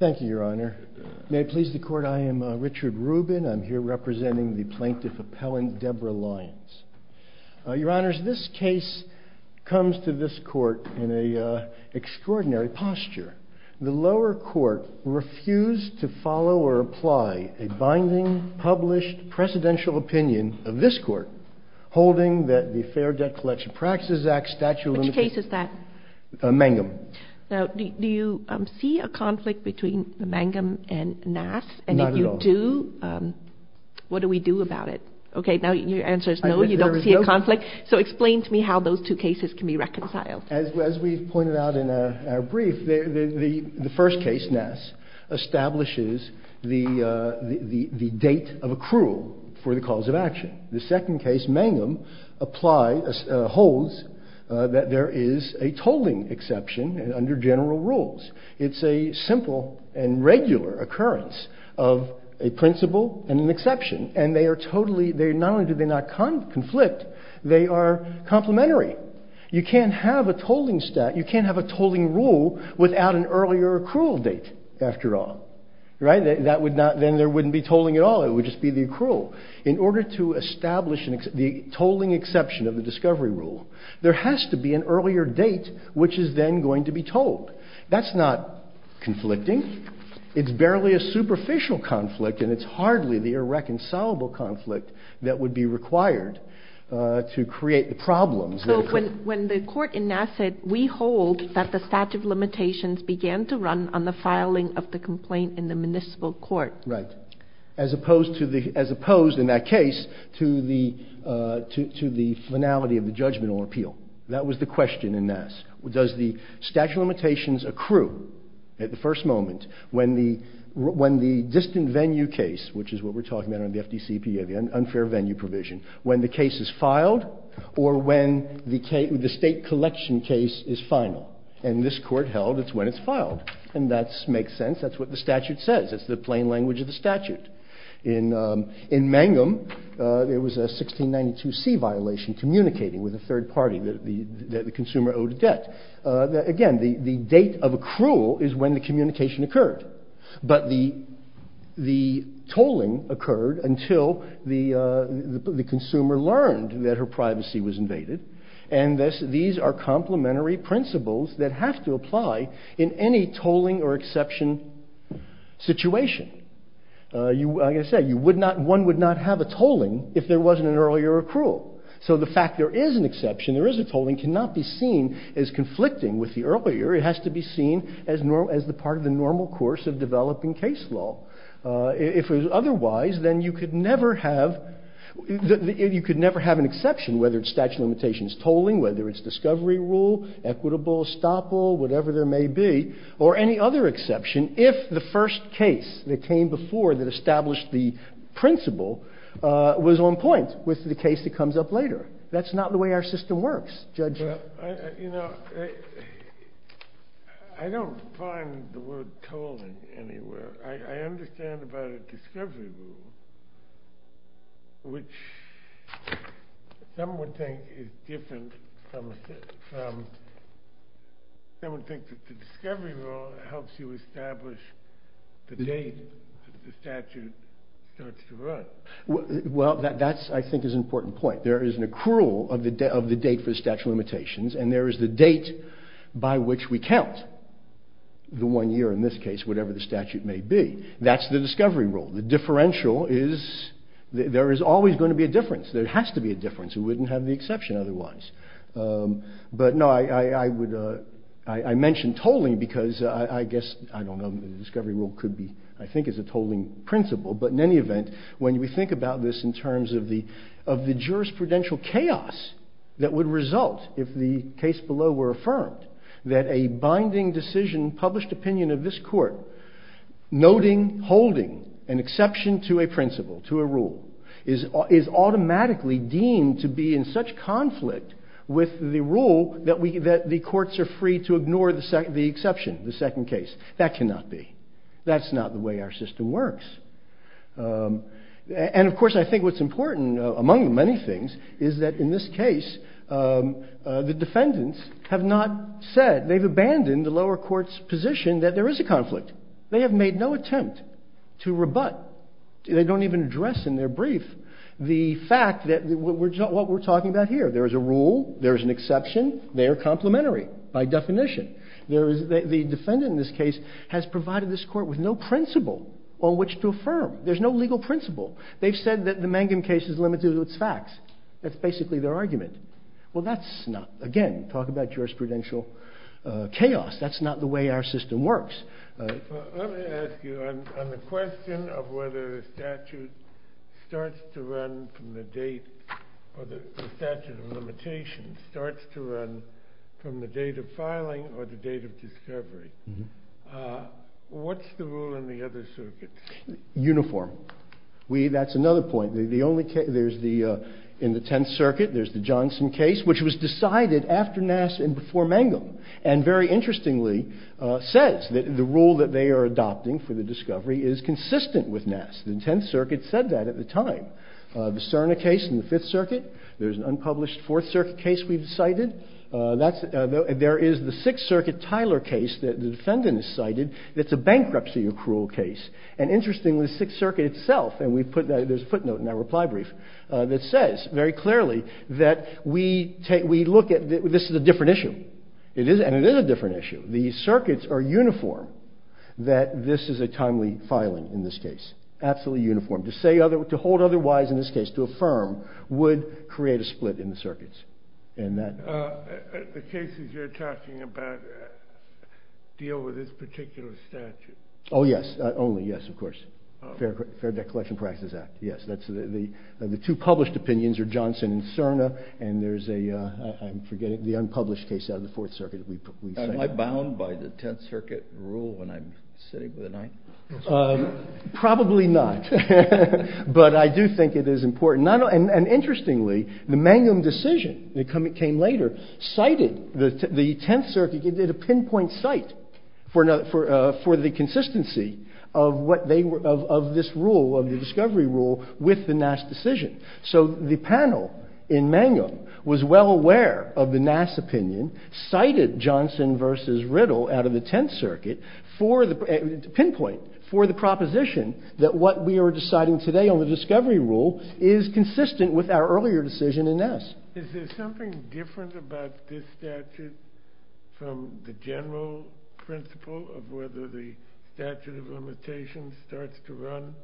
Thank you, Your Honor. May it please the Court, I am Richard Rubin. I'm here representing the Plaintiff Appellant, Deborah Lyons. Your Honors, this case comes to this Court in an extraordinary posture. The lower Court refused to follow or apply a binding, published, precedential opinion of this Court, holding that the Fair Debt Collection Practices Act, Statute of the Law, is a binding, precedential opinion of the Fair Debt Collection Practices Act. of this Court, holding that the Fair Debt Collection Practices Act, Statute of the Law, is a tolling exception under general rules. It's a simple and regular occurrence of a principle and an exception, and they are totally, not only do they not conflict, they are complementary. You can't have a tolling rule without an earlier accrual date, after all. Then there wouldn't be tolling at all, it would just be the accrual. In order to establish the tolling exception of the discovery rule, there has to be an earlier date which is then going to be told. That's not conflicting. It's barely a superficial conflict, and it's hardly the irreconcilable conflict that would be required to create the problems. So when the Court in Nasset, we hold that the statute of limitations began to run on the filing of the complaint in the Municipal Court. Right. As opposed to the – as opposed, in that case, to the finality of the judgmental appeal. That was the question in Nasset. Does the statute of limitations accrue at the first moment when the – when the distant venue case, which is what we're talking about in the FDCPA, the unfair venue provision, when the case is filed or when the state collection case is final? And this Court held it's when it's filed. And that makes sense. That's what the statute says. It's the plain language of the statute. In Mangum, there was a 1692C violation, communicating with a third party that the consumer owed a debt. Again, the date of accrual is when the communication occurred. But the tolling occurred until the consumer learned that her privacy was invaded. And these are complementary principles that have to apply in any tolling or exception situation. You – like I said, you would not – one would not have a tolling if there wasn't an earlier accrual. So the fact there is an exception, there is a tolling, cannot be seen as conflicting with the earlier. It has to be seen as the part of the normal course of developing case law. If it was otherwise, then you could never have – you could never have an exception whether it's statute of limitations tolling, whether it's discovery rule, equitable stoppable, whatever there may be, or any other exception if the first case that came before that established the principle was on point with the case that comes up later. That's not the way our system works, Judge. Well, you know, I don't find the word tolling anywhere. I understand about a discovery rule, which some would think is different from – some would think that the discovery rule helps you establish the date the statute starts to run. Well, that's – I think is an important point. There is an accrual of the date for statute of limitations, and there is the date by which we count the one year in this case, whatever the statute may be. That's the discovery rule. The differential is – there is always going to be a difference. There has to be a difference. We wouldn't have the exception otherwise. But no, I would – I mentioned tolling because I guess – I don't know. The discovery rule could be – I think is a tolling principle. But in any event, when we think about this in terms of the jurisprudential chaos that would result if the case below were affirmed, that a binding decision, published opinion of this court, noting, holding an exception to a principle, to a rule, is automatically deemed to be in such conflict with the rule that the courts are free to ignore the exception, the second case. That cannot be. That's not the way our system works. And, of course, I think what's important, among many things, is that in this case the defendants have not said – they've abandoned the lower court's position that there is a conflict. They have made no attempt to rebut. They don't even address in their brief the fact that what we're talking about here. There is a rule. There is an exception. They are complementary by definition. There is – the defendant in this case has provided this court with no principle on which to affirm. There's no legal principle. They've said that the Mangum case is limited to its facts. That's basically their argument. Well, that's not – again, talk about jurisprudential chaos. That's not the way our system works. Let me ask you, on the question of whether the statute starts to run from the date – or the statute of limitations starts to run from the date of filing or the date of discovery, what's the rule in the other circuits? Uniform. We – that's another point. The only – there's the – in the Tenth Circuit there's the Johnson case, which was decided after Nass and before Mangum, and very interestingly says that the rule that they are adopting for the discovery is consistent with Nass. The Tenth Circuit said that at the time. The Cerna case in the Fifth Circuit, there's an unpublished Fourth Circuit case we've cited. That's – there is the Sixth Circuit Tyler case that the defendant has cited that's a bankruptcy accrual case. And interestingly, the Sixth Circuit itself – and we put that – there's a footnote in that reply brief that says very clearly that we take – we look at – this is a different issue. It is – and it is a different issue. The circuits are uniform that this is a timely filing in this case, absolutely uniform. To say other – to hold otherwise in this case, to affirm, would create a split in the circuits. And that – The cases you're talking about deal with this particular statute? Oh, yes. Only, yes. Of course. Fair Debt Collection Practices Act. Yes. That's the – the two published opinions are Johnson and Cerna, and there's a – I'm forgetting – the unpublished case out of the Fourth Circuit we cited. Am I bound by the Tenth Circuit rule when I'm sitting with a knife? Probably not. But I do think it is important. And interestingly, the Mangum decision that came later cited the Tenth Circuit – it did a pinpoint cite for the consistency of what they were – of this rule, of the discovery rule with the Nass decision. So the panel in Mangum was well aware of the Nass opinion, cited Johnson versus Riddle out of the Tenth Circuit for the – pinpoint, for the proposition that what we are deciding today on the discovery rule is consistent with our earlier decision in Nass. Is there something different about this statute from the general principle of whether the statute of limitations starts to run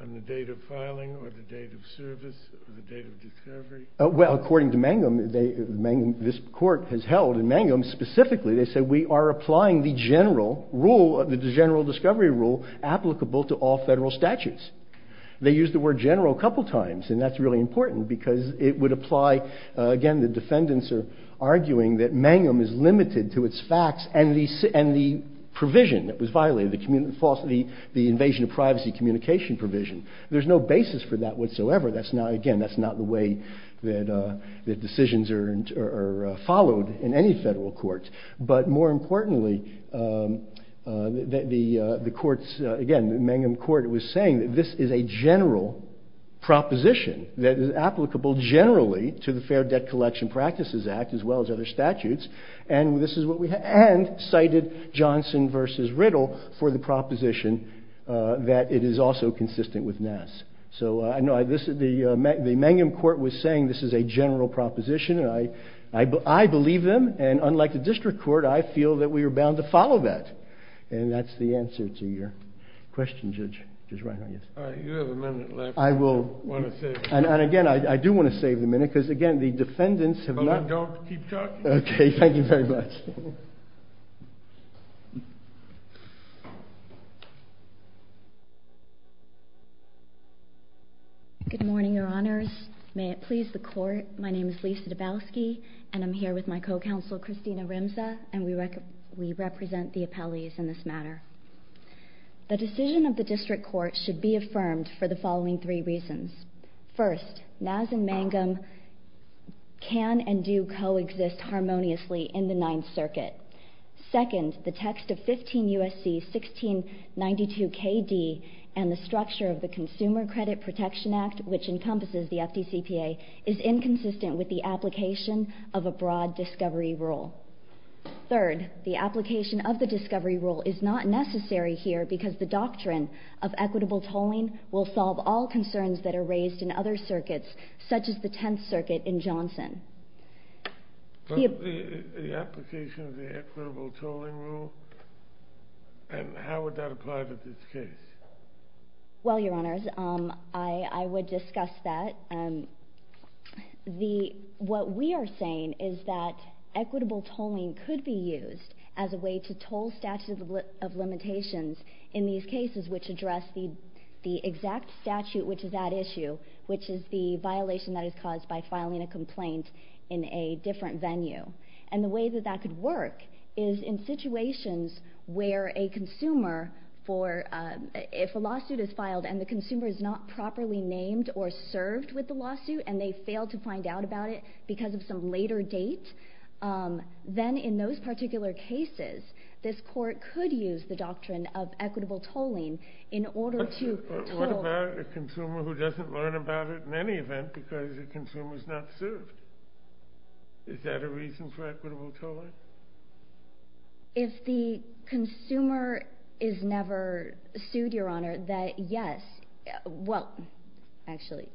on the date of filing or the date of service or the date of discovery? Well, according to Mangum, they – this court has held in Mangum specifically, they general rule – the general discovery rule applicable to all federal statutes. They used the word general a couple times, and that's really important because it would apply – again, the defendants are arguing that Mangum is limited to its facts and the provision that was violated, the invasion of privacy communication provision. There's no basis for that whatsoever. That's not – again, that's not the way that decisions are followed in any federal court. But more importantly, the courts – again, the Mangum court was saying that this is a general proposition that is applicable generally to the Fair Debt Collection Practices Act as well as other statutes, and this is what we – and cited Johnson versus Riddle for the proposition that it is also consistent with Nass. So I know this – the Mangum court was saying this is a general proposition, and I believe them, and unlike the district court, I feel that we are bound to follow that. And that's the answer to your question, Judge. All right. You have a minute left. I will – I want to save it. And again, I do want to save the minute because, again, the defendants have not – Well, then don't keep talking. Okay. Thank you very much. Good morning, Your Honors. May it please the Court. Good morning. My name is Lisa Dabowski, and I'm here with my co-counsel, Christina Rimza, and we represent the appellees in this matter. The decision of the district court should be affirmed for the following three reasons. First, Nass and Mangum can and do coexist harmoniously in the Ninth Circuit. Second, the text of 15 U.S.C. 1692 K.D. and the structure of the Consumer Credit Protection Act, which encompasses the FDCPA, is inconsistent with the application of a broad discovery rule. Third, the application of the discovery rule is not necessary here because the doctrine of equitable tolling will solve all concerns that are raised in other circuits, such as the Tenth Circuit in Johnson. The application of the equitable tolling rule, and how would that apply to this case? Well, Your Honors, I would discuss that. What we are saying is that equitable tolling could be used as a way to toll statute of limitations in these cases which address the exact statute which is at issue, which is the violation that is caused by filing a complaint in a different venue. And the way that that could work is in situations where a consumer, if a lawsuit is filed and the consumer is not properly named or served with the lawsuit and they fail to find out about it because of some later date, then in those particular cases this court could use the doctrine of equitable tolling in order to toll. But what about a consumer who doesn't learn about it in any event because the consumer is not served? Is that a reason for equitable tolling? If the consumer is never sued, Your Honor, then yes. Well, actually,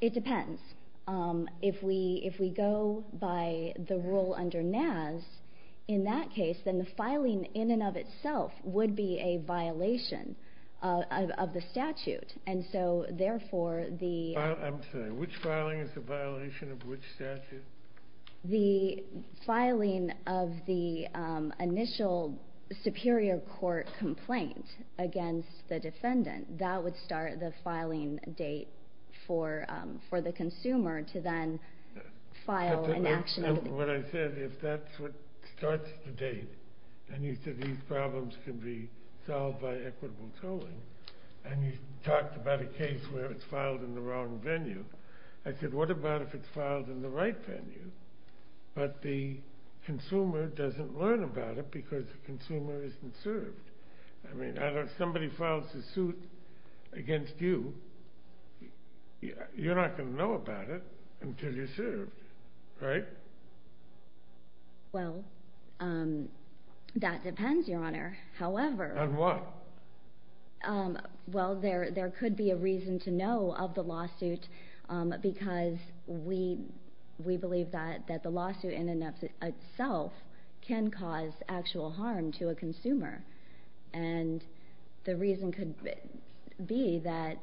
it depends. If we go by the rule under NAS, in that case, then the filing in and of itself would be a violation of the statute. I'm sorry. Which filing is a violation of which statute? The filing of the initial superior court complaint against the defendant. That would start the filing date for the consumer to then file an action. What I said, if that's what starts the date and you said these problems can be solved by equitable tolling and you talked about a case where it's filed in the wrong venue, I said what about if it's filed in the right venue but the consumer doesn't learn about it because the consumer isn't served? I mean, if somebody files a suit against you, you're not going to know about it until you're served, right? Well, that depends, Your Honor. However— And why? Well, there could be a reason to know of the lawsuit because we believe that the lawsuit in and of itself can cause actual harm to a consumer. And the reason could be that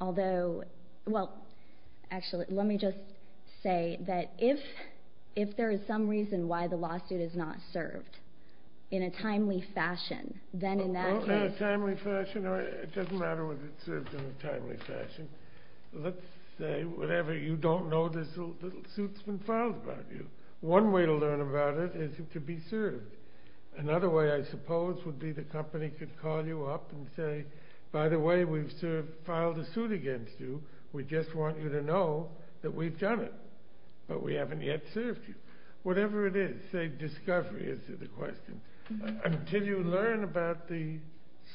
although—well, actually, let me just say that if there is some reason why the lawsuit is not served in a timely fashion, then in that case— Oh, not in a timely fashion? It doesn't matter whether it's served in a timely fashion. Let's say, whatever, you don't know the suit's been filed against you. One way to learn about it is to be served. Another way, I suppose, would be the company could call you up and say, by the way, we've filed a suit against you. We just want you to know that we've done it. But we haven't yet served you. Whatever it is, say, discovery is the question. Until you learn about the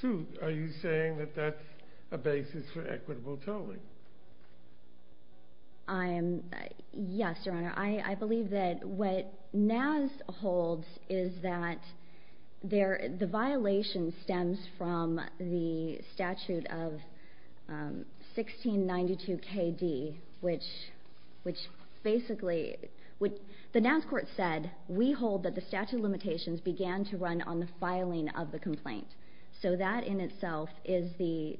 suit, are you saying that that's a basis for equitable tolling? Yes, Your Honor. I believe that what NAS holds is that the violation stems from the statute of 1692 K.D., which basically—the NAS court said, we hold that the statute of limitations began to run on the filing of the complaint. So that in itself is the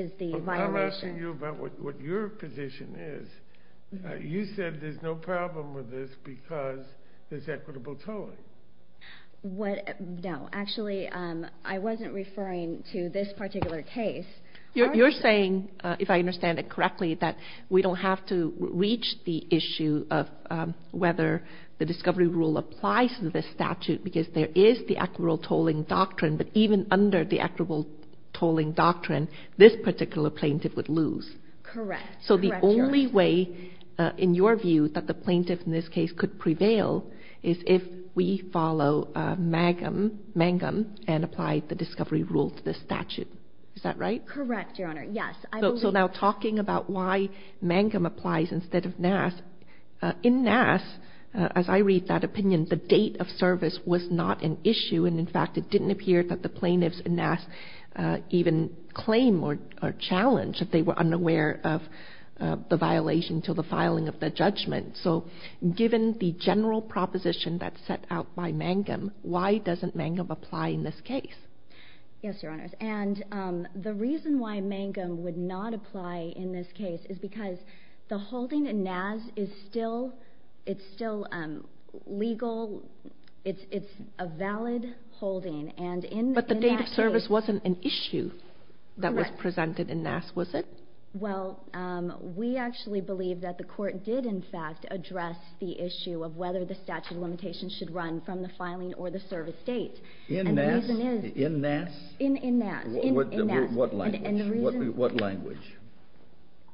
violation. I'm asking you about what your position is. You said there's no problem with this because there's equitable tolling. No. Actually, I wasn't referring to this particular case. You're saying, if I understand it correctly, that we don't have to reach the issue of whether the discovery rule applies to this statute because there is the equitable tolling doctrine. But even under the equitable tolling doctrine, this particular plaintiff would lose. Correct. So the only way, in your view, that the plaintiff in this case could prevail is if we follow Mangum and apply the discovery rule to this statute. Is that right? Correct, Your Honor. Yes. So now talking about why Mangum applies instead of NAS, in NAS, as I read that opinion, the date of service was not an issue. And in fact, it didn't appear that the plaintiffs in NAS even claim or challenge that they were unaware of the violation till the filing of the judgment. So given the general proposition that's set out by Mangum, why doesn't Mangum apply in this case? Yes, Your Honors. And the reason why Mangum would not apply in this case is because the holding in NAS is still legal. It's a valid holding. But the date of service wasn't an issue that was presented in NAS, was it? Well, we actually believe that the court did, in fact, address the issue of whether the statute of limitations should run from the filing or the service date. In NAS? In NAS. In NAS. In NAS. What language? What language?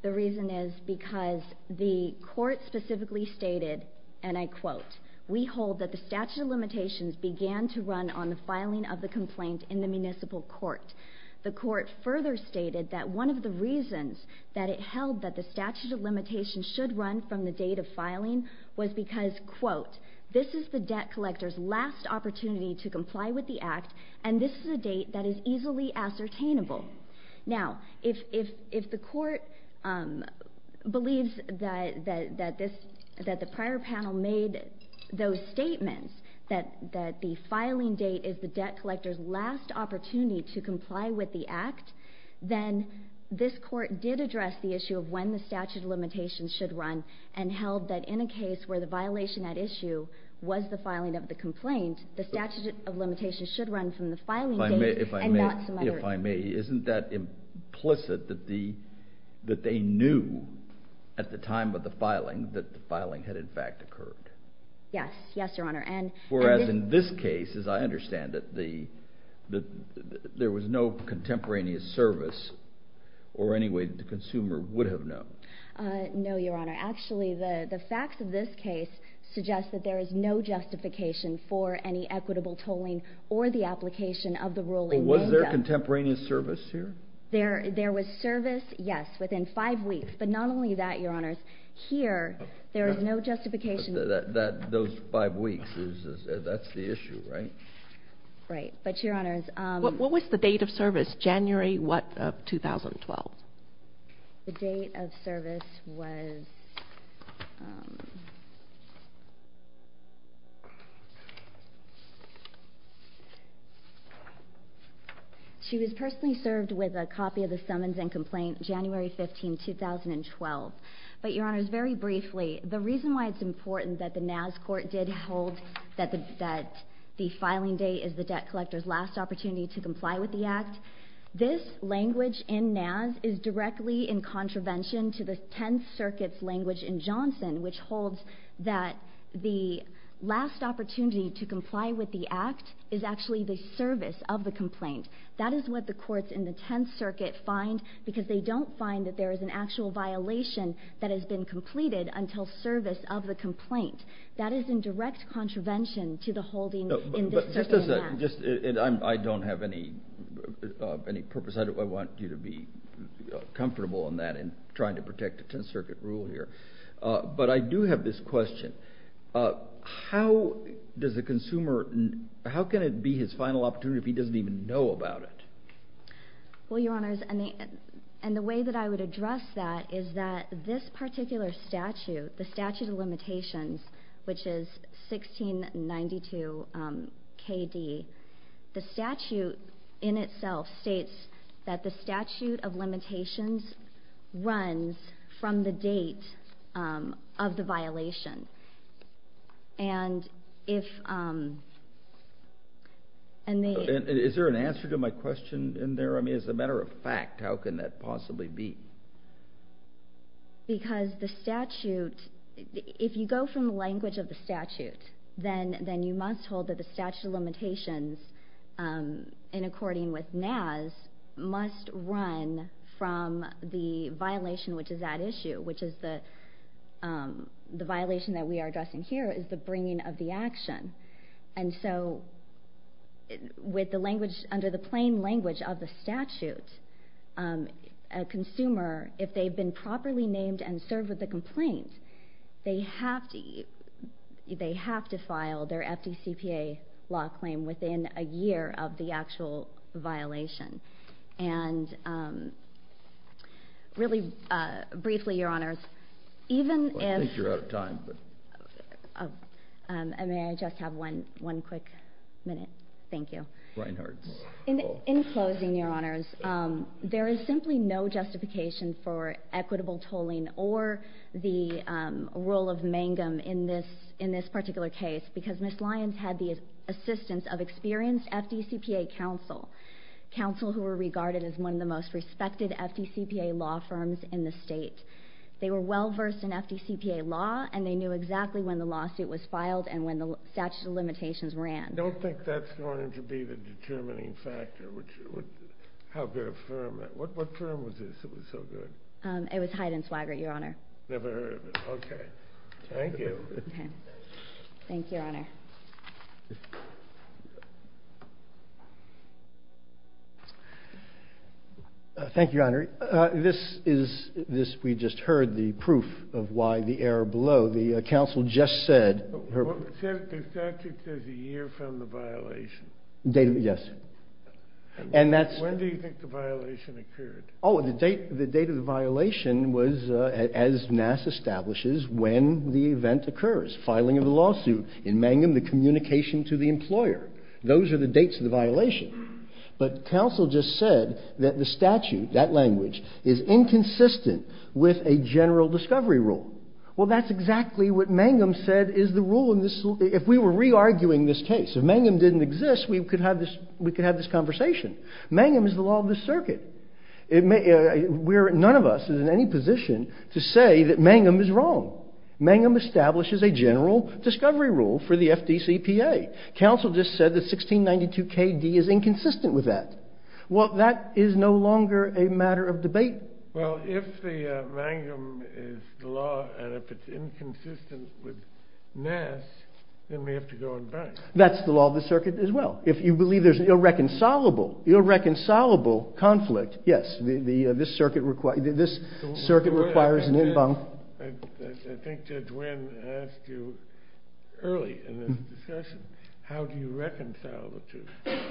The reason is because the court specifically stated, and I quote, we hold that the statute of limitations began to run on the filing of the complaint in the municipal court. The court further stated that one of the reasons that it held that the statute of limitations should run from the date of filing was because, quote, this is the debt collector's last opportunity to comply with the act, and this is a date that is easily ascertainable. Now, if the court believes that the prior panel made those statements, that the filing date is the debt collector's last opportunity to comply with the act, then this court did address the issue of when the statute of limitations should run and held that in a case where the violation at issue was the filing of the complaint, the statute of limitations should run from the filing date and not some other issue. If I may, isn't that implicit that they knew at the time of the filing that the filing had in fact occurred? Yes. Yes, Your Honor. Whereas in this case, as I understand it, there was no contemporaneous service or any way that the consumer would have known. No, Your Honor. Actually, the facts of this case suggest that there is no justification for any equitable tolling or the application of the ruling. So was there contemporaneous service here? There was service, yes, within five weeks. But not only that, Your Honors. Here, there is no justification. Those five weeks, that's the issue, right? Right. But, Your Honors. What was the date of service? January what of 2012? The date of service was... She was personally served with a copy of the summons and complaint January 15, 2012. But, Your Honors, very briefly, the reason why it's important that the NAS court did hold that the filing date is the debt collector's last opportunity to comply with the act, this language in NAS is directly in contravention to the Tenth Circuit's language in Johnson, which holds that the last opportunity to comply with the act is actually the service of the complaint. That is what the courts in the Tenth Circuit find, because they don't find that there is an actual violation that has been completed until service of the complaint. That is in direct contravention to the holding in the circuit act. I don't have any purpose. I want you to be comfortable in that in trying to protect the Tenth Circuit rule here. But I do have this question. How can it be his final opportunity if he doesn't even know about it? Well, Your Honors, and the way that I would address that is that this particular statute, the statute of limitations, which is 1692 K.D., the statute in itself states that the statute of limitations runs from the date of the violation. And if... Is there an answer to my question in there? I mean, as a matter of fact, how can that possibly be? Because the statute... If you go from the language of the statute, then you must hold that the statute of limitations, in according with NAS, must run from the violation, which is that issue, which is the violation that we are addressing here is the bringing of the action. And so, with the language, under the plain language of the statute, a consumer, if they've been properly named and served with a complaint, they have to file their FDCPA law claim within a year of the actual violation. And really briefly, Your Honors, even if... I think you're out of time. May I just have one quick minute? Thank you. Reinhardt. In closing, Your Honors, there is simply no justification for equitable tolling or the rule of mangum in this particular case because Ms. Lyons had the assistance of experienced FDCPA counsel, counsel who were regarded as one of the most respected FDCPA law firms in the state. They were well-versed in FDCPA law, and they knew exactly when the lawsuit was filed and when the statute of limitations ran. I don't think that's going to be the determining factor. What firm was this that was so good? It was Hyde and Swigert, Your Honor. Never heard of it. Okay. Thank you. Thank you, Your Honor. Thank you, Your Honor. This is, we just heard the proof of why the error below. The counsel just said... The statute says a year from the violation. Yes. And that's... When do you think the violation occurred? Oh, the date of the violation was, as NASS establishes, when the event occurs, filing of the lawsuit. In mangum, the communication to the employer. Those are the dates of the violation. But counsel just said that the statute, that language, is inconsistent with a general discovery rule. Well, that's exactly what mangum said is the rule in this. If we were re-arguing this case, if mangum didn't exist, we could have this conversation. Mangum is the law of the circuit. None of us is in any position to say that mangum is wrong. Mangum establishes a general discovery rule for the FDCPA. Counsel just said that 1692KD is inconsistent with that. Well, that is no longer a matter of debate. Well, if the mangum is the law, and if it's inconsistent with NASS, then we have to go and bank. That's the law of the circuit as well. If you believe there's an irreconcilable conflict, yes. This circuit requires an en banc. I think Judge Winn asked you early in this discussion, how do you reconcile the two?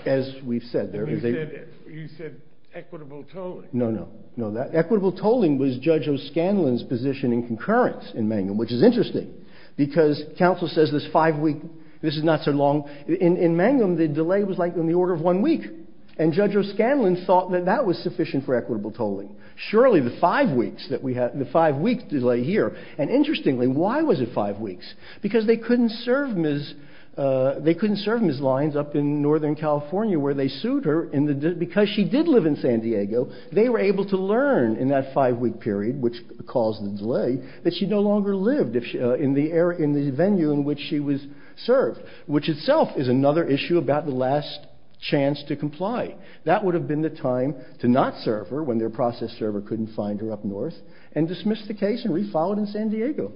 As we've said, there is a... You said equitable tolling. No, no, no. Equitable tolling was Judge O'Scanlon's position in concurrence in mangum, which is interesting, because counsel says this five-week, this is not so long. In mangum, the delay was like on the order of one week, and Judge O'Scanlon thought that that was sufficient for equitable tolling. Surely the five weeks that we have, the five-week delay here, and interestingly, why was it five weeks? Because they couldn't serve Ms. They couldn't serve Ms. Lyons up in Northern California where they sued her because she did live in San Diego. They were able to learn in that five-week period, which caused the delay, that she no longer lived in the venue in which she was served, which itself is another issue about the last chance to comply. That would have been the time to not serve her, when their process server couldn't find her up north, and dismiss the case and refile it in San Diego.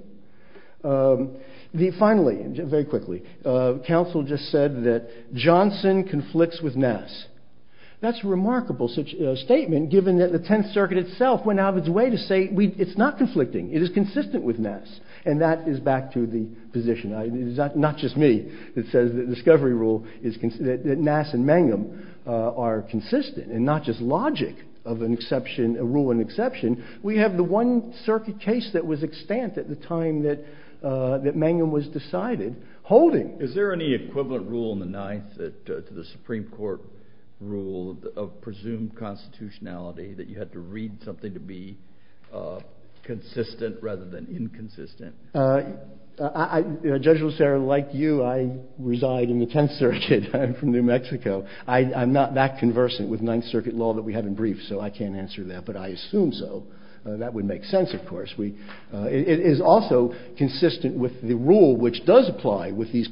That's a remarkable statement, given that the Tenth Circuit itself went out of its way to say it's not conflicting. It is consistent with Nass. And that is back to the position. It's not just me that says that Nass and mangum are consistent, and not just logic of a rule and exception. We have the one circuit case that was extant at the time that mangum was decided, holding. Is there any equivalent rule in the Ninth to the Supreme Court rule of presumed constitutionality, that you had to read something to be consistent rather than inconsistent? Judge Lucero, like you, I reside in the Tenth Circuit. I'm from New Mexico. I'm not that conversant with Ninth Circuit law that we have in brief, so I can't answer that, but I assume so. That would make sense, of course. It is also consistent with the rule which does apply with these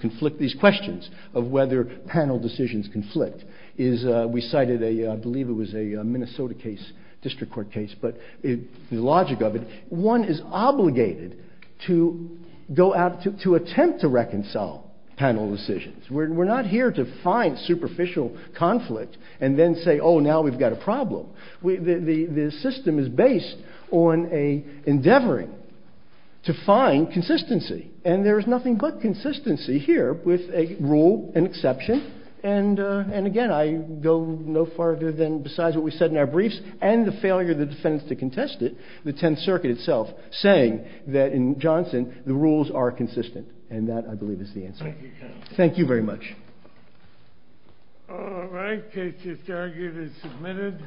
questions of whether panel decisions conflict. We cited a, I believe it was a Minnesota case, district court case, but the logic of it, one is obligated to attempt to reconcile panel decisions. We're not here to find superficial conflict and then say, oh, now we've got a problem. The system is based on an endeavoring to find consistency, and there is nothing but consistency here with a rule and exception, and again, I go no further than besides what we said in our briefs and the failure of the defendants to contest it, the Tenth Circuit itself, saying that in Johnson, the rules are consistent, and that, I believe, is the answer. Thank you, counsel. Thank you very much. All right. Case is argued and submitted.